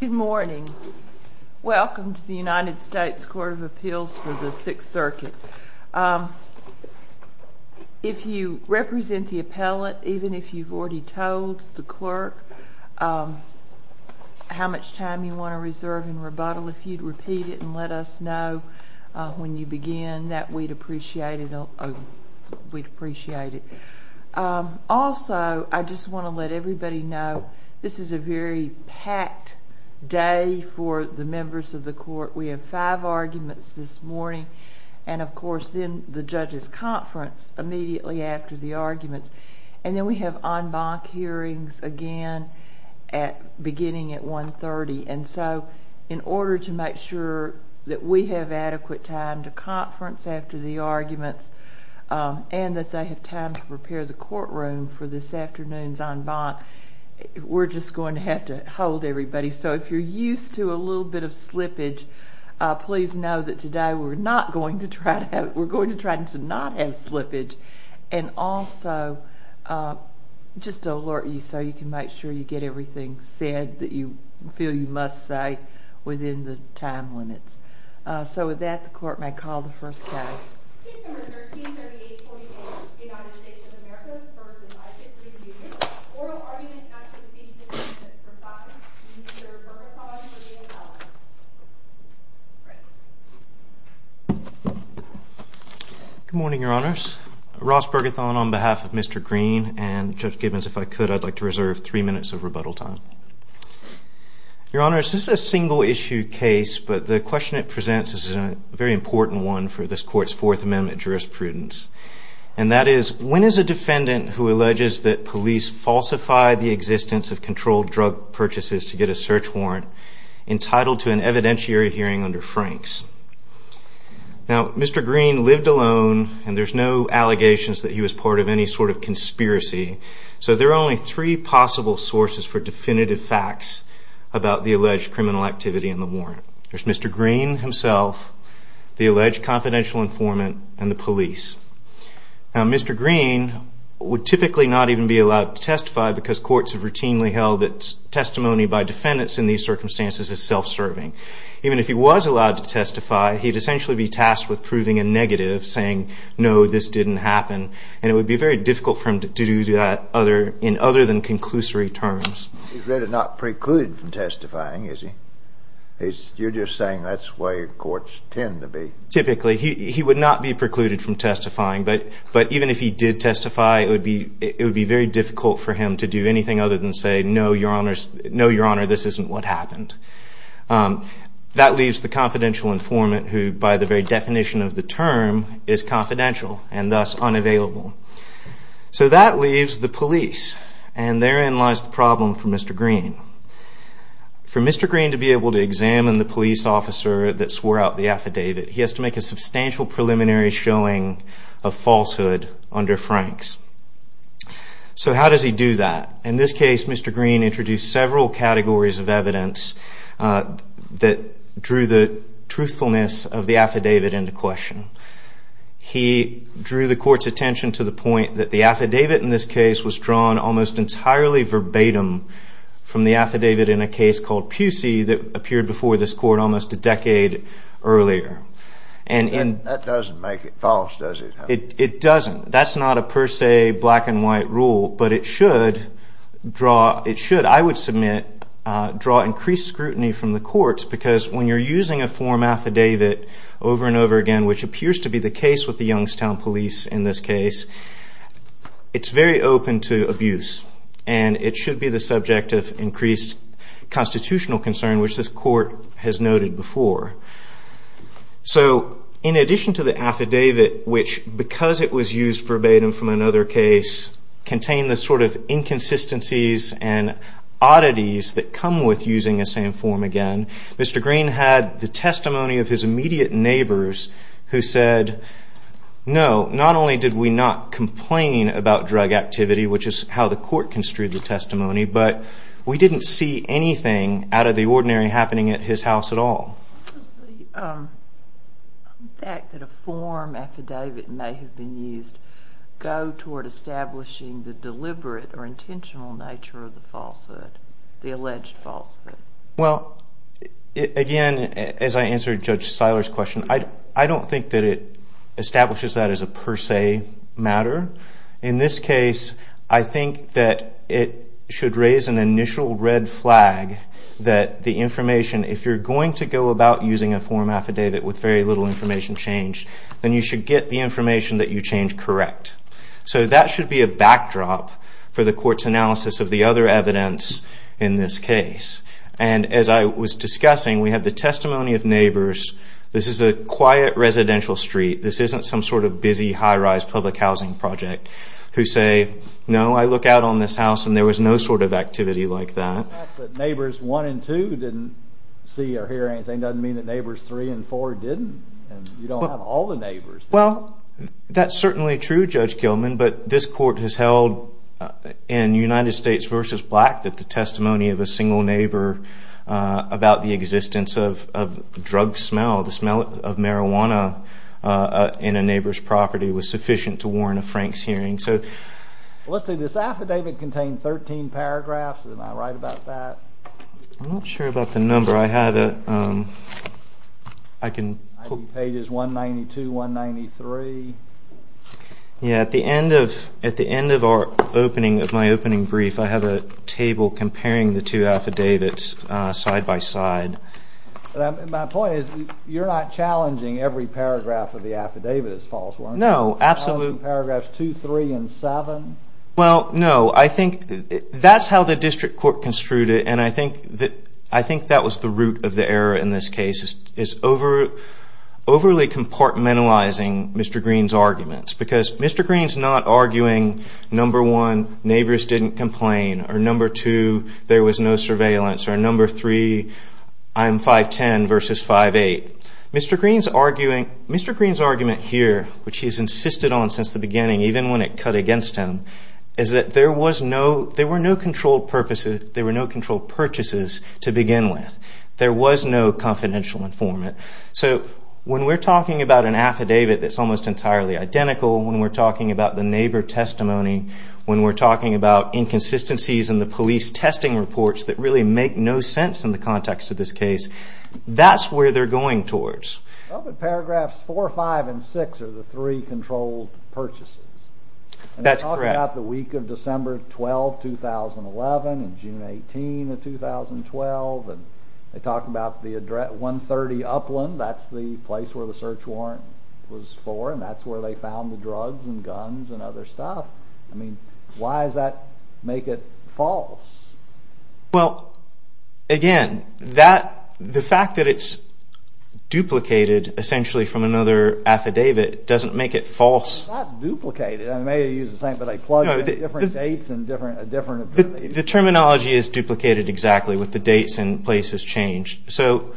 Good morning. Welcome to the United States Court of Appeals for the Sixth Circuit. If you represent the appellate, even if you've already told the clerk how much time you want to reserve in rebuttal, if you'd repeat it and let us know when you begin that we'd appreciate it, we'd appreciate it. Also, I just want to let everybody know this is a very packed day for the members of the court. We have five arguments this morning, and of course then the judges conference immediately after the arguments. And then we have en banc hearings again at beginning at 1.30. And so in order to make sure that we have adequate time to conference after the arguments and that they have time to prepare the courtroom for this afternoon's en banc, we're just going to have to hold everybody. So if you're used to a little bit of slippage, please know that today we're not going to try to, we're going to try to not have slippage. And also just to alert you so you can make sure you get everything said that you feel you must say within the time limits. So with that, the court may call the first case. United States of America v. Isaac Green Jr. Oral Argument Act of 1860, Mr. Saunders, Mr. Bergethon, and Ms. Allyns. Good morning, Your Honors. Ross Bergethon on behalf of Mr. Green and Judge Gibbons, if I could, I'd like to reserve three minutes of rebuttal time. Your Honors, this is a single issue case, but the question it presents is a very important one for this court's Fourth Amendment jurisprudence. And that is, when is a defendant who alleges that police falsified the existence of controlled drug purchases to get a search warrant entitled to an evidentiary hearing under Franks? Now, Mr. Green lived alone, and there's no allegations that he was part of any sort of conspiracy. So there are only three possible sources for definitive facts about the alleged criminal activity in the warrant. There's Mr. Green himself, the alleged confidential informant, and the police. Now, Mr. Green would typically not even be allowed to testify because courts have routinely held that testimony by defendants in these circumstances is self-serving. Even if he was allowed to testify, he'd essentially be tasked with proving a negative, saying, no, this didn't happen. And it would be very difficult for him to do that in other than conclusory terms. He's really not precluded from testifying, is he? You're just saying that's the way courts tend to be. Typically, he would not be precluded from testifying. But even if he did testify, it would be very difficult for him to do anything other than say, no, your honor, this isn't what happened. That leaves the confidential informant who, by the very definition of the term, is confidential and thus unavailable. So that leaves the police. And therein lies the problem for Mr. Green. For Mr. Green to be able to examine the police officer that swore out the affidavit, he has to make a substantial preliminary showing of falsehood under Franks. So how does he do that? In this case, Mr. Green introduced several categories of evidence that drew the truthfulness of the affidavit into question. He drew the court's attention to the point that the from the affidavit in a case called Pusey that appeared before this court almost a decade earlier. That doesn't make it false, does it? It doesn't. That's not a per se black and white rule. But it should, I would submit, draw increased scrutiny from the courts. Because when you're using a form affidavit over and over again, which appears to be the case with the subject of increased constitutional concern, which this court has noted before. So in addition to the affidavit, which because it was used verbatim from another case, contained the sort of inconsistencies and oddities that come with using the same form again, Mr. Green had the testimony of his immediate neighbors who said, no, not only did we not complain about drug activity, which is how the court construed the testimony, but we didn't see anything out of the ordinary happening at his house at all. Does the fact that a form affidavit may have been used go toward establishing the deliberate or intentional nature of the falsehood, the alleged falsehood? Well, again, as I answered Judge Seiler's question, I think that it should raise an initial red flag that the information, if you're going to go about using a form affidavit with very little information changed, then you should get the information that you changed correct. So that should be a backdrop for the court's analysis of the other evidence in this case. And as I was discussing, we have the testimony of neighbors. This is a quiet residential street. This isn't some sort of busy high-rise public housing project, who say, no, I look out on this house and there was no sort of activity like that. The fact that neighbors 1 and 2 didn't see or hear anything doesn't mean that neighbors 3 and 4 didn't. You don't have all the neighbors. Well, that's certainly true, Judge Gilman, but this court has held in United States v. Black that the testimony of a single neighbor about the existence of drug smell, the smell of marijuana in a house, is not sufficient to warrant a Frank's hearing. Well, let's see. This affidavit contained 13 paragraphs. Am I right about that? I'm not sure about the number. I have a – I can – I think page is 192, 193. Yeah. At the end of our opening, of my opening brief, I have a table comparing the two affidavits side by side. My point is, you're not challenging every paragraph of the affidavit as false, were you? No, absolutely. You're not challenging paragraphs 2, 3, and 7? Well, no. I think that's how the district court construed it, and I think that was the root of the error in this case, is overly compartmentalizing Mr. Green's arguments. Because Mr. Green's not arguing, number 1, neighbors didn't complain, or number 2, there was no surveillance, or number 3, I'm 5'10", versus 5'8". Mr. Green's insisted on since the beginning, even when it cut against him, is that there was no – there were no controlled purposes – there were no controlled purchases to begin with. There was no confidential informant. So when we're talking about an affidavit that's almost entirely identical, when we're talking about the neighbor testimony, when we're talking about inconsistencies in the police testing reports that really make no sense in the context of this case, that's where they're going towards. Well, but paragraphs 4, 5, and 6 are the three controlled purchases. That's correct. And they're talking about the week of December 12, 2011, and June 18 of 2012, and they talk about the address 130 Upland, that's the place where the search warrant was for, and that's where they found the drugs and guns and other stuff. I mean, why does that make it false? Well, again, that – the fact that it's duplicated essentially from another affidavit doesn't make it false. It's not duplicated. I may have used the same, but they plug in different dates and different – The terminology is duplicated exactly with the dates and places changed. So,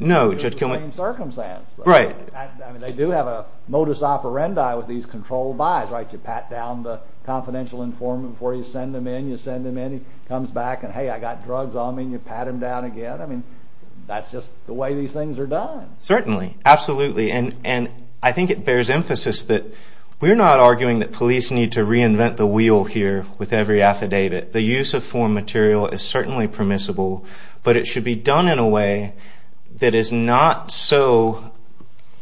no, Judge Kilman – It's the same circumstance. Right. I mean, they do have a modus operandi with these controlled buys, right? You pat down the confidential informant before you send them in, he comes back and, hey, I got drugs on me, and you pat him down again. I mean, that's just the way these things are done. Certainly. Absolutely. And I think it bears emphasis that we're not arguing that police need to reinvent the wheel here with every affidavit. The use of foreign material is certainly permissible, but it should be done in a way that is not so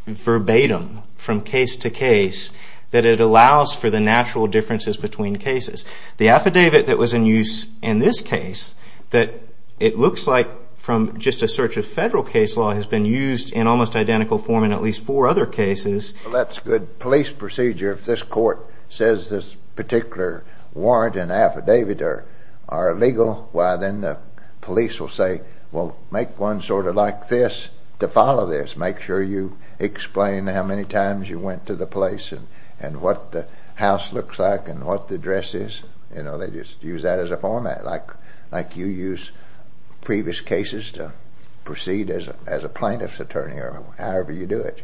verbatim from case to case that it allows for the natural differences between cases. The affidavit that was in use in this case, that it looks like from just a search of federal case law, has been used in almost identical form in at least four other cases. Well, that's good police procedure. If this court says this particular warrant and affidavit are illegal, well, then the police will say, well, make one sort of like this to follow this. Make sure you explain how many times you went to the place and what the address is. They just use that as a format, like you use previous cases to proceed as a plaintiff's attorney or however you do it.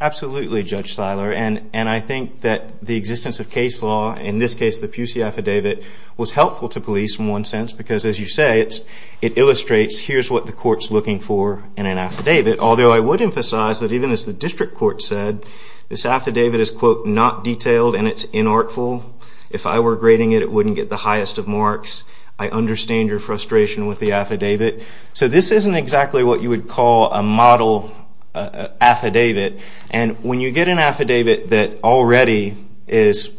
Absolutely, Judge Seiler. And I think that the existence of case law, in this case the Pusey affidavit, was helpful to police in one sense because, as you say, it illustrates here's what the court's looking for in an affidavit. Although I would emphasize that even as the district court said, this affidavit is, quote, not detailed and it's inartful. If I were grading it, it wouldn't get the highest of marks. I understand your frustration with the affidavit. So this isn't exactly what you would call a model affidavit. And when you get an affidavit that already is,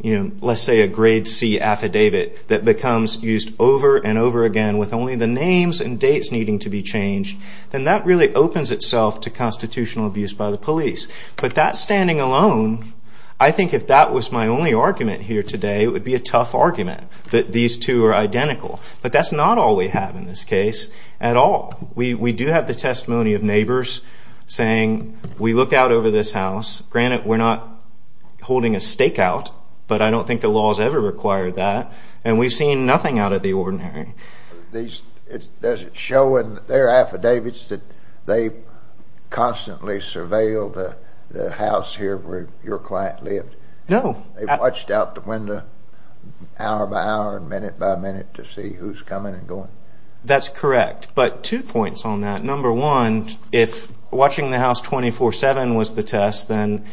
you know, let's say a grade C affidavit that becomes used over and over again with only the names and dates needing to be changed, then that really opens itself to constitutional abuse by the police. But that standing alone, I think if that was my only argument here today, it would be a tough argument that these two are identical. But that's not all we have in this case at all. We do have the testimony of neighbors saying, we look out over this house. Granted, we're not holding a stakeout, but I don't think the law has ever required that. And we've seen nothing out of the ordinary. Does it show in their affidavits that they constantly surveilled the house here where your client lived? No. They watched out the window hour by hour and minute by minute to see who's coming and going? That's correct. But two points on that. Number one, if watching the house 24-7 was the test, then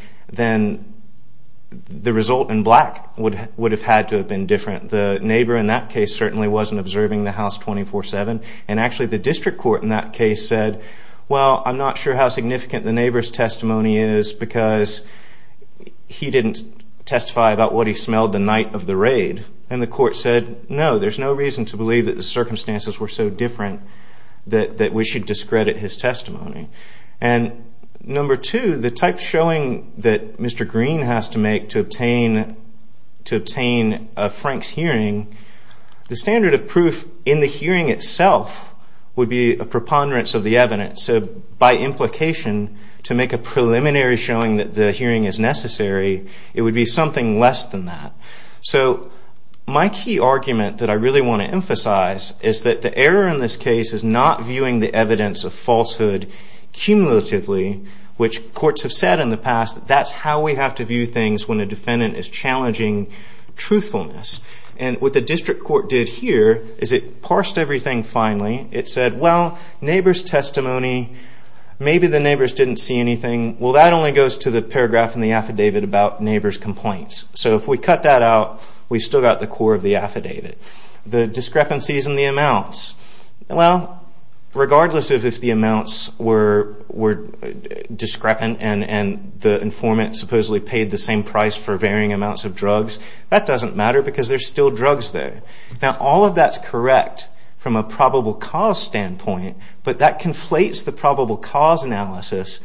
the result in black would have had to have been different. The neighbor in that case certainly wasn't observing the house 24-7. And actually, the district court in that case said, well, I'm not sure how significant the neighbor's testimony is because he didn't testify about what he smelled the night of the raid. And the court said, no, there's no reason to believe that the circumstances were so different that we should discredit his testimony. And number two, the type showing that Mr. Green has to make to proof in the hearing itself would be a preponderance of the evidence. So by implication, to make a preliminary showing that the hearing is necessary, it would be something less than that. So my key argument that I really want to emphasize is that the error in this case is not viewing the evidence of falsehood cumulatively, which courts have said in the past that that's how we have to view things when a defendant is challenging truthfulness. And what the district court did here is it parsed everything finally. It said, well, neighbor's testimony, maybe the neighbors didn't see anything. Well, that only goes to the paragraph in the affidavit about neighbor's complaints. So if we cut that out, we've still got the core of the affidavit. The discrepancies in the amounts. Well, regardless of if the amounts were discrepant and the informant supposedly paid the same amounts of drugs, that doesn't matter because there's still drugs there. Now, all of that's correct from a probable cause standpoint, but that conflates the probable cause analysis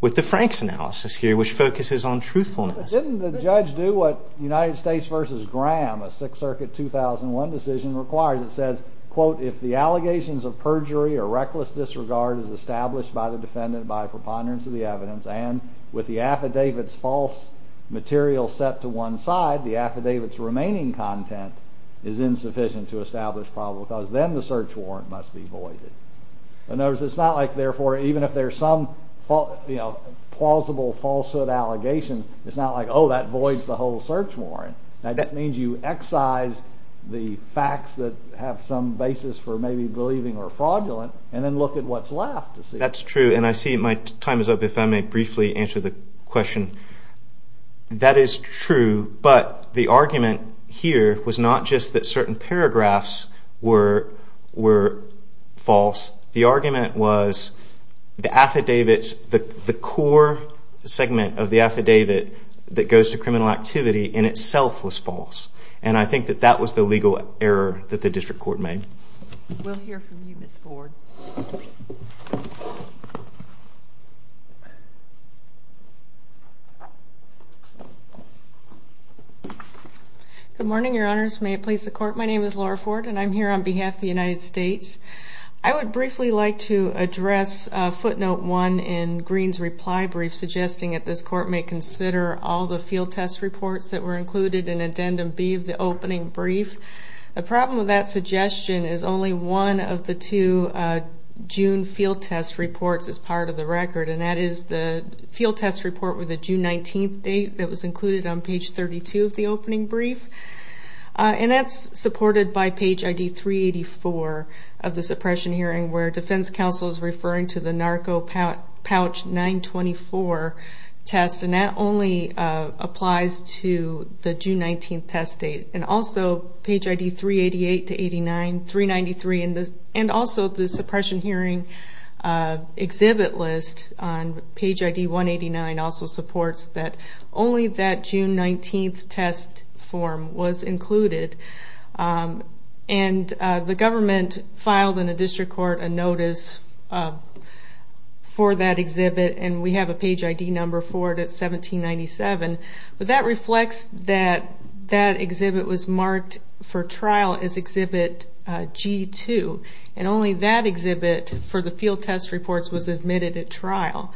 with the Franks analysis here, which focuses on truthfulness. Didn't the judge do what United States versus Graham, a Sixth Circuit 2001 decision requires? It says, quote, if the allegations of perjury or reckless disregard is established by the defendant by preponderance of the evidence and with the affidavit's false material set to one side, the affidavit's remaining content is insufficient to establish probable cause, then the search warrant must be voided. And notice it's not like, therefore, even if there's some plausible falsehood allegation, it's not like, oh, that voids the whole search warrant. That means you excise the facts that have some basis for maybe believing or fraudulent, and then look at what's left. That's true, and I see my time is up. If I may briefly answer the question. That is true, but the argument here was not just that certain paragraphs were false. The argument was the affidavit's, the core segment of the affidavit that goes to criminal activity in itself was false, and I think that that was the legal error that the district court made. We'll hear from you, Ms. Ford. Good morning, your honors. May it please the court. My name is Laura Ford, and I'm here on behalf of the United States. I would briefly like to address footnote one in Green's reply brief suggesting that this court may consider all the field test reports that were included in addendum B of the opening brief. The problem with that suggestion is only one of the two June field test reports as part of the record, and that is the field test report with the June 19th date that was included on page 32 of the opening brief, and that's supported by page ID 384 of the suppression hearing where defense counsel is referring to the Narco Pouch 924 test, and that only applies to the June 19th test date, and also page ID 388 to 89, 393, and also the suppression hearing exhibit list on page ID 189 also supports that only that June 19th test form was included, and the government filed in a district court a notice for that exhibit, and we have a page ID number 404 to 1797, but that reflects that that exhibit was marked for trial as exhibit G2, and only that exhibit for the field test reports was admitted at trial.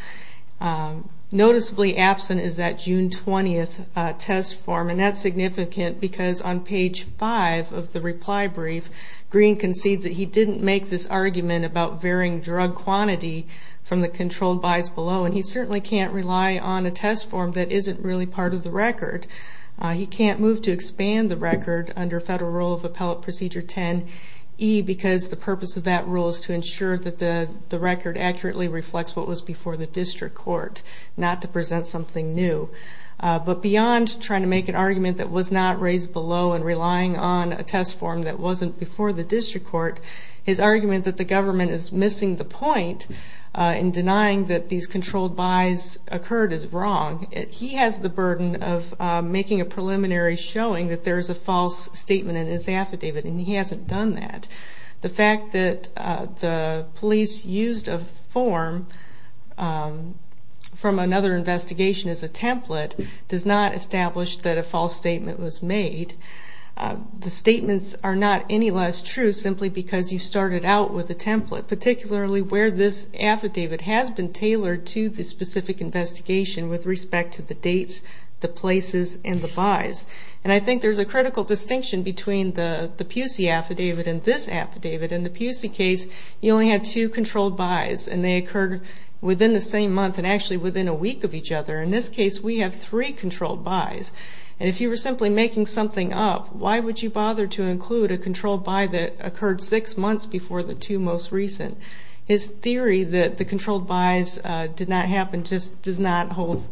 Noticeably absent is that June 20th test form, and that's significant because on page five of the reply brief, Green concedes that he didn't make this argument about varying drug quantity from the controlled buys below, and he certainly can't rely on a test form that isn't really part of the record. He can't move to expand the record under federal rule of appellate procedure 10E, because the purpose of that rule is to ensure that the record accurately reflects what was before the district court, not to present something new. But beyond trying to make an argument that was not raised below and relying on a test form that wasn't before the district court, his argument that the government is missing the point in denying that these controlled buys occurred is wrong. He has the burden of making a preliminary showing that there's a false statement in his affidavit, and he hasn't done that. The fact that the police used a form from another investigation as a template does not establish that a false statement is less true simply because you started out with a template, particularly where this affidavit has been tailored to the specific investigation with respect to the dates, the places, and the buys. And I think there's a critical distinction between the Pusey affidavit and this affidavit. In the Pusey case, you only had two controlled buys, and they occurred within the same month and actually within a week of each other. In this case, we have three controlled buys. And if you were simply making something up, why would you bother to include a controlled buy that occurred six months before the two most recent? His theory that the controlled buys did not happen just does not hold.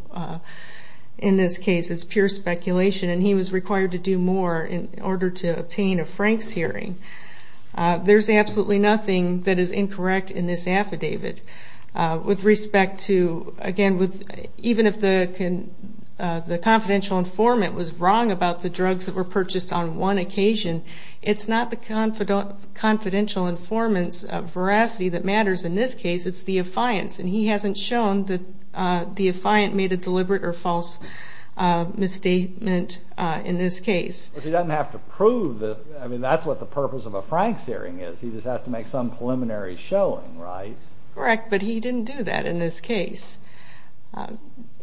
In this case, it's pure speculation, and he was required to do more in order to obtain a Frank's hearing. There's absolutely nothing that is incorrect in this affidavit. With respect to... Again, even if the confidential informant was wrong about the drugs that were purchased on one occasion, it's not the confidential informant's veracity that matters in this case, it's the affiant's. And he hasn't shown that the affiant made a deliberate or false misstatement in this case. But he doesn't have to prove that... That's what the purpose of a Frank's hearing is. He just has to make some preliminary showing, right? Correct, but he didn't do that in this case.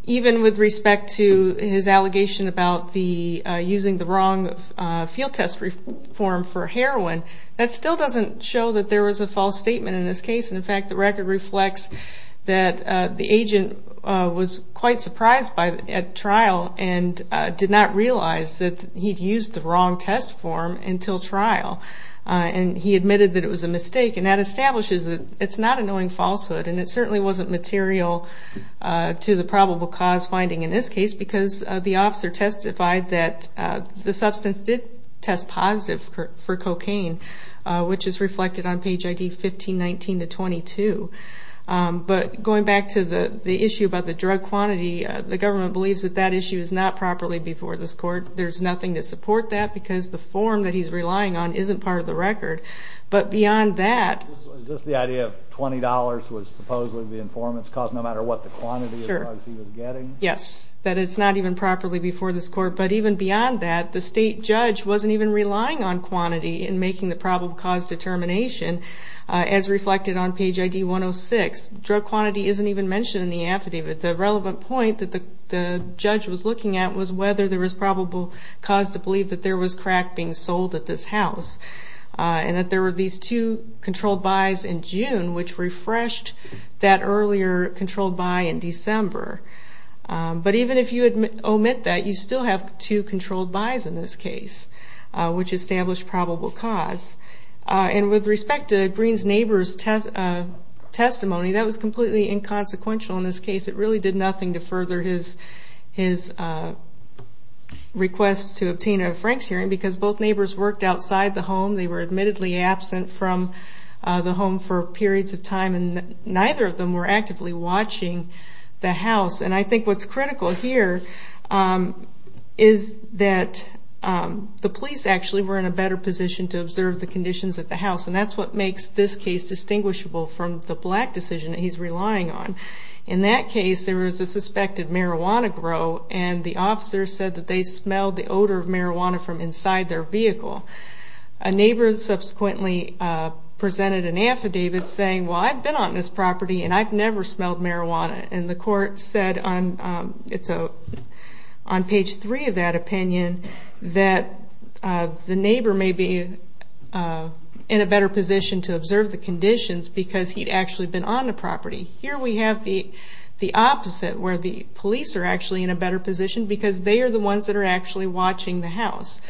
Even with respect to his allegation about using the wrong field test form for heroin, that still doesn't show that there was a false statement in this case. And in fact, the record reflects that the agent was quite surprised at trial and did not realize that he'd used the wrong test form until trial, and he admitted that it was a mistake. And that establishes that it's not a knowing falsehood, and it certainly wasn't material to the probable cause finding in this case, because the officer testified that the substance did test positive for cocaine, which is reflected on page ID 1519 to 22. But going back to the issue about the drug quantity, the government believes that that issue is not properly before this court. There's nothing to support that because the form that he's relying on isn't part of the record. But beyond that... Is this the idea of $20 was supposedly the informant's cost, no matter what the quantity of drugs he was getting? Sure. Yes, that it's not even properly before this court. But even beyond that, the state judge wasn't even relying on quantity in making the probable cause determination, as reflected on page ID 106. Drug quantity isn't even mentioned in the affidavit. The relevant point that the judge was looking at was whether there was probable cause to believe that there was crack being sold at this house, and that there were these two controlled buys in June, which refreshed that earlier controlled buy in December. But even if you omit that, you still have two controlled buys in this case, which established probable cause. And with respect to Green's neighbor's testimony, that was completely inconsequential in this case. It really did nothing to further his request to obtain a Frank's hearing, because both neighbors worked outside the home. They were admittedly absent from the home for periods of time, and neither of them were actively watching the house. And I think what's critical here is that the police actually were in a better position to observe the conditions at the house. And that's what makes this case distinguishable from the black decision that he's relying on. In that case, there was a suspected marijuana grow, and the officer said that they smelled the odor of marijuana from inside their vehicle. A neighbor subsequently presented an affidavit saying, well, I've been on this property and I've never smelled marijuana. And the court said on... It's on page three of that opinion, that the neighbor may be in a better position to observe the conditions, because he'd actually been on the property. Here we have the opposite, where the police are actually in a better position, because they are the ones that are actually watching the house.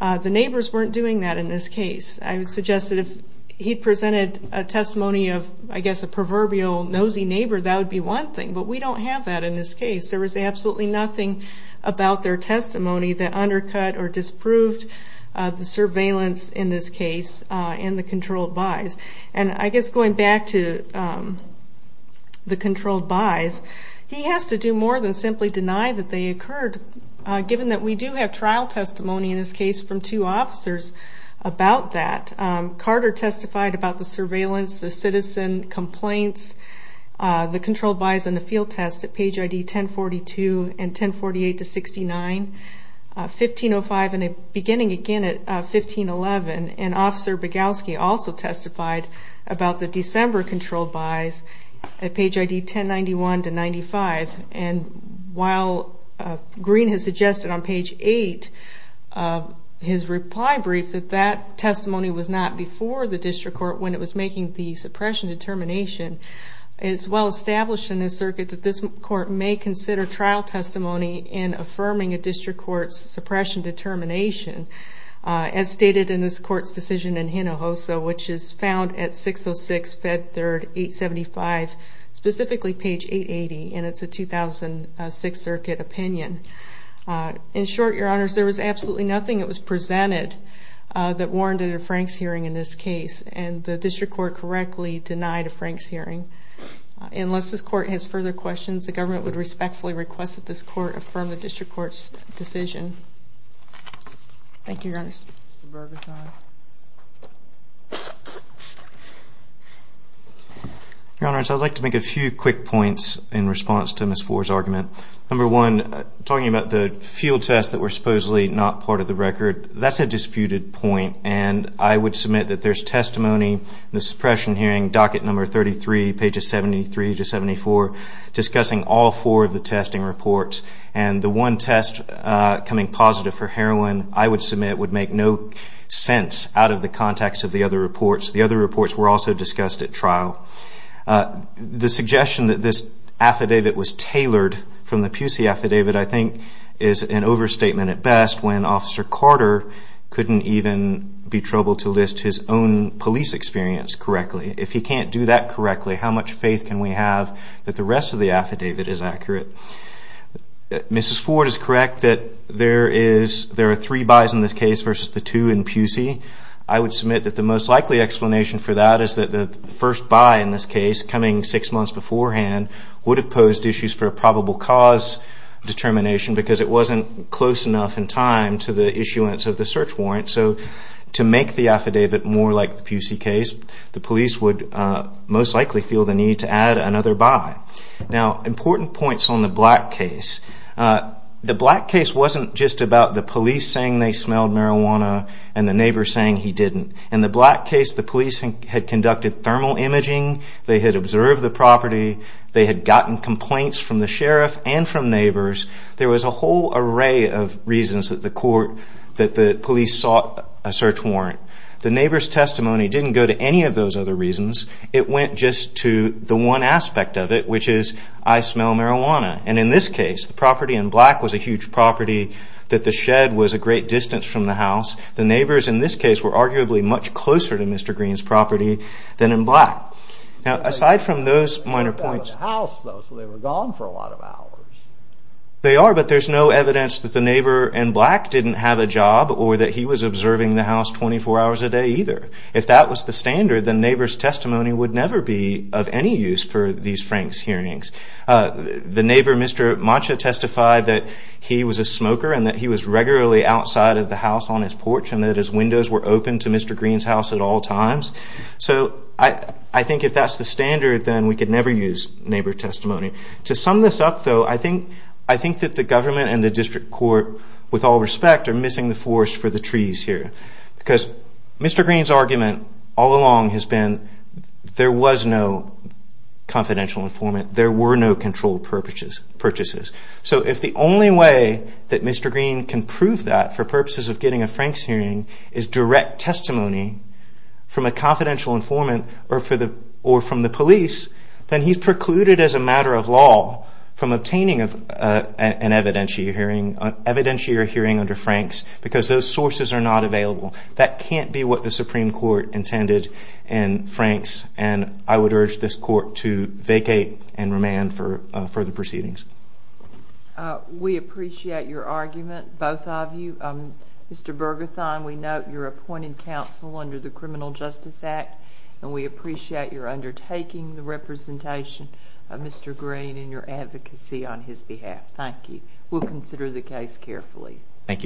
The neighbors weren't doing that in this case. I would suggest that if he presented a testimony of, I guess, a proverbial nosy neighbor, that would be one thing, but we don't have that in this case. There was absolutely nothing about their testimony that undercut or disproved the surveillance in this case and the controlled buys. And I guess going back to the controlled buys, he has to do more than simply deny that they occurred, given that we do have trial testimony in this case from two officers about that. Carter testified about the surveillance, the citizen complaints, the controlled buys and the field test at page ID 1042 and 1048 to 69, 1505 and beginning again at 1511. And Officer Bogowski also testified about December controlled buys at page ID 1091 to 95. And while Green has suggested on page 8, his reply brief, that that testimony was not before the district court when it was making the suppression determination. It's well established in this circuit that this court may consider trial testimony in affirming a district court's suppression determination, as stated in this court's decision in Hinojosa, which is found at 606 Fed Third 875, specifically page 880, and it's a 2006 circuit opinion. In short, Your Honors, there was absolutely nothing that was presented that warranted a Frank's hearing in this case, and the district court correctly denied a Frank's hearing. Unless this court has further questions, the government would respectfully request that this court affirm the district court's decision. Thank you, Your Honors. Your Honors, I'd like to make a few quick points in response to Ms. Ford's argument. Number one, talking about the field tests that were supposedly not part of the record, that's a disputed point, and I would submit that there's testimony in the suppression hearing, docket number 33, pages 73 to 74, discussing all four of the testing reports, and the one test coming positive for heroin, I would submit would make no sense out of the context of the other reports. The other reports were also discussed at trial. The suggestion that this affidavit was tailored from the Pusey affidavit, I think, is an overstatement at best when Officer Carter couldn't even be troubled to list his own police experience correctly. If he can't do that correctly, how much faith can we have that the rest of the case is correct, that there are three buys in this case versus the two in Pusey, I would submit that the most likely explanation for that is that the first buy in this case, coming six months beforehand, would have posed issues for a probable cause determination because it wasn't close enough in time to the issuance of the search warrant. So to make the affidavit more like the Pusey case, the police would most likely feel the need to add another buy. Now, important points on the Black case. The Black case wasn't just about the police saying they smelled marijuana and the neighbor saying he didn't. In the Black case, the police had conducted thermal imaging, they had observed the property, they had gotten complaints from the sheriff and from neighbors. There was a whole array of reasons that the police sought a search warrant. The neighbor's testimony didn't go to any of those other reasons. It went just to the one aspect of it, which is, I smell marijuana. And in this case, the property in Black was a huge property that the shed was a great distance from the house. The neighbors in this case were arguably much closer to Mr. Green's property than in Black. Now, aside from those minor points... They were gone for a lot of hours. They are, but there's no evidence that the neighbor in Black didn't have a job or that he was observing the house 24 hours a day either. If that was the standard, the neighbor's testimony would never be of any use for these Franks hearings. The neighbor, Mr. Mancha, testified that he was a smoker and that he was regularly outside of the house on his porch and that his windows were open to Mr. Green's house at all times. So I think if that's the standard, then we could never use neighbor testimony. To sum this up, though, I think that the government and the district court, with all respect, are missing the forest for the trees here. Because Mr. Green's argument all along has been, there was no confidential informant, there were no controlled purchases. So if the only way that Mr. Green can prove that for purposes of getting a Franks hearing is direct testimony from a confidential informant or from the police, then he's precluded as a matter of law from obtaining an evidentiary hearing under Franks because those sources are not available. That can't be what the Supreme Court intended in Franks and I would urge this court to vacate and remand for further proceedings. We appreciate your argument, both of you. Mr. Bergerthon, we note your appointed counsel under the Criminal Justice Act and we appreciate your taking the representation of Mr. Green in your advocacy on his behalf. Thank you. We'll consider the case carefully. Thank you.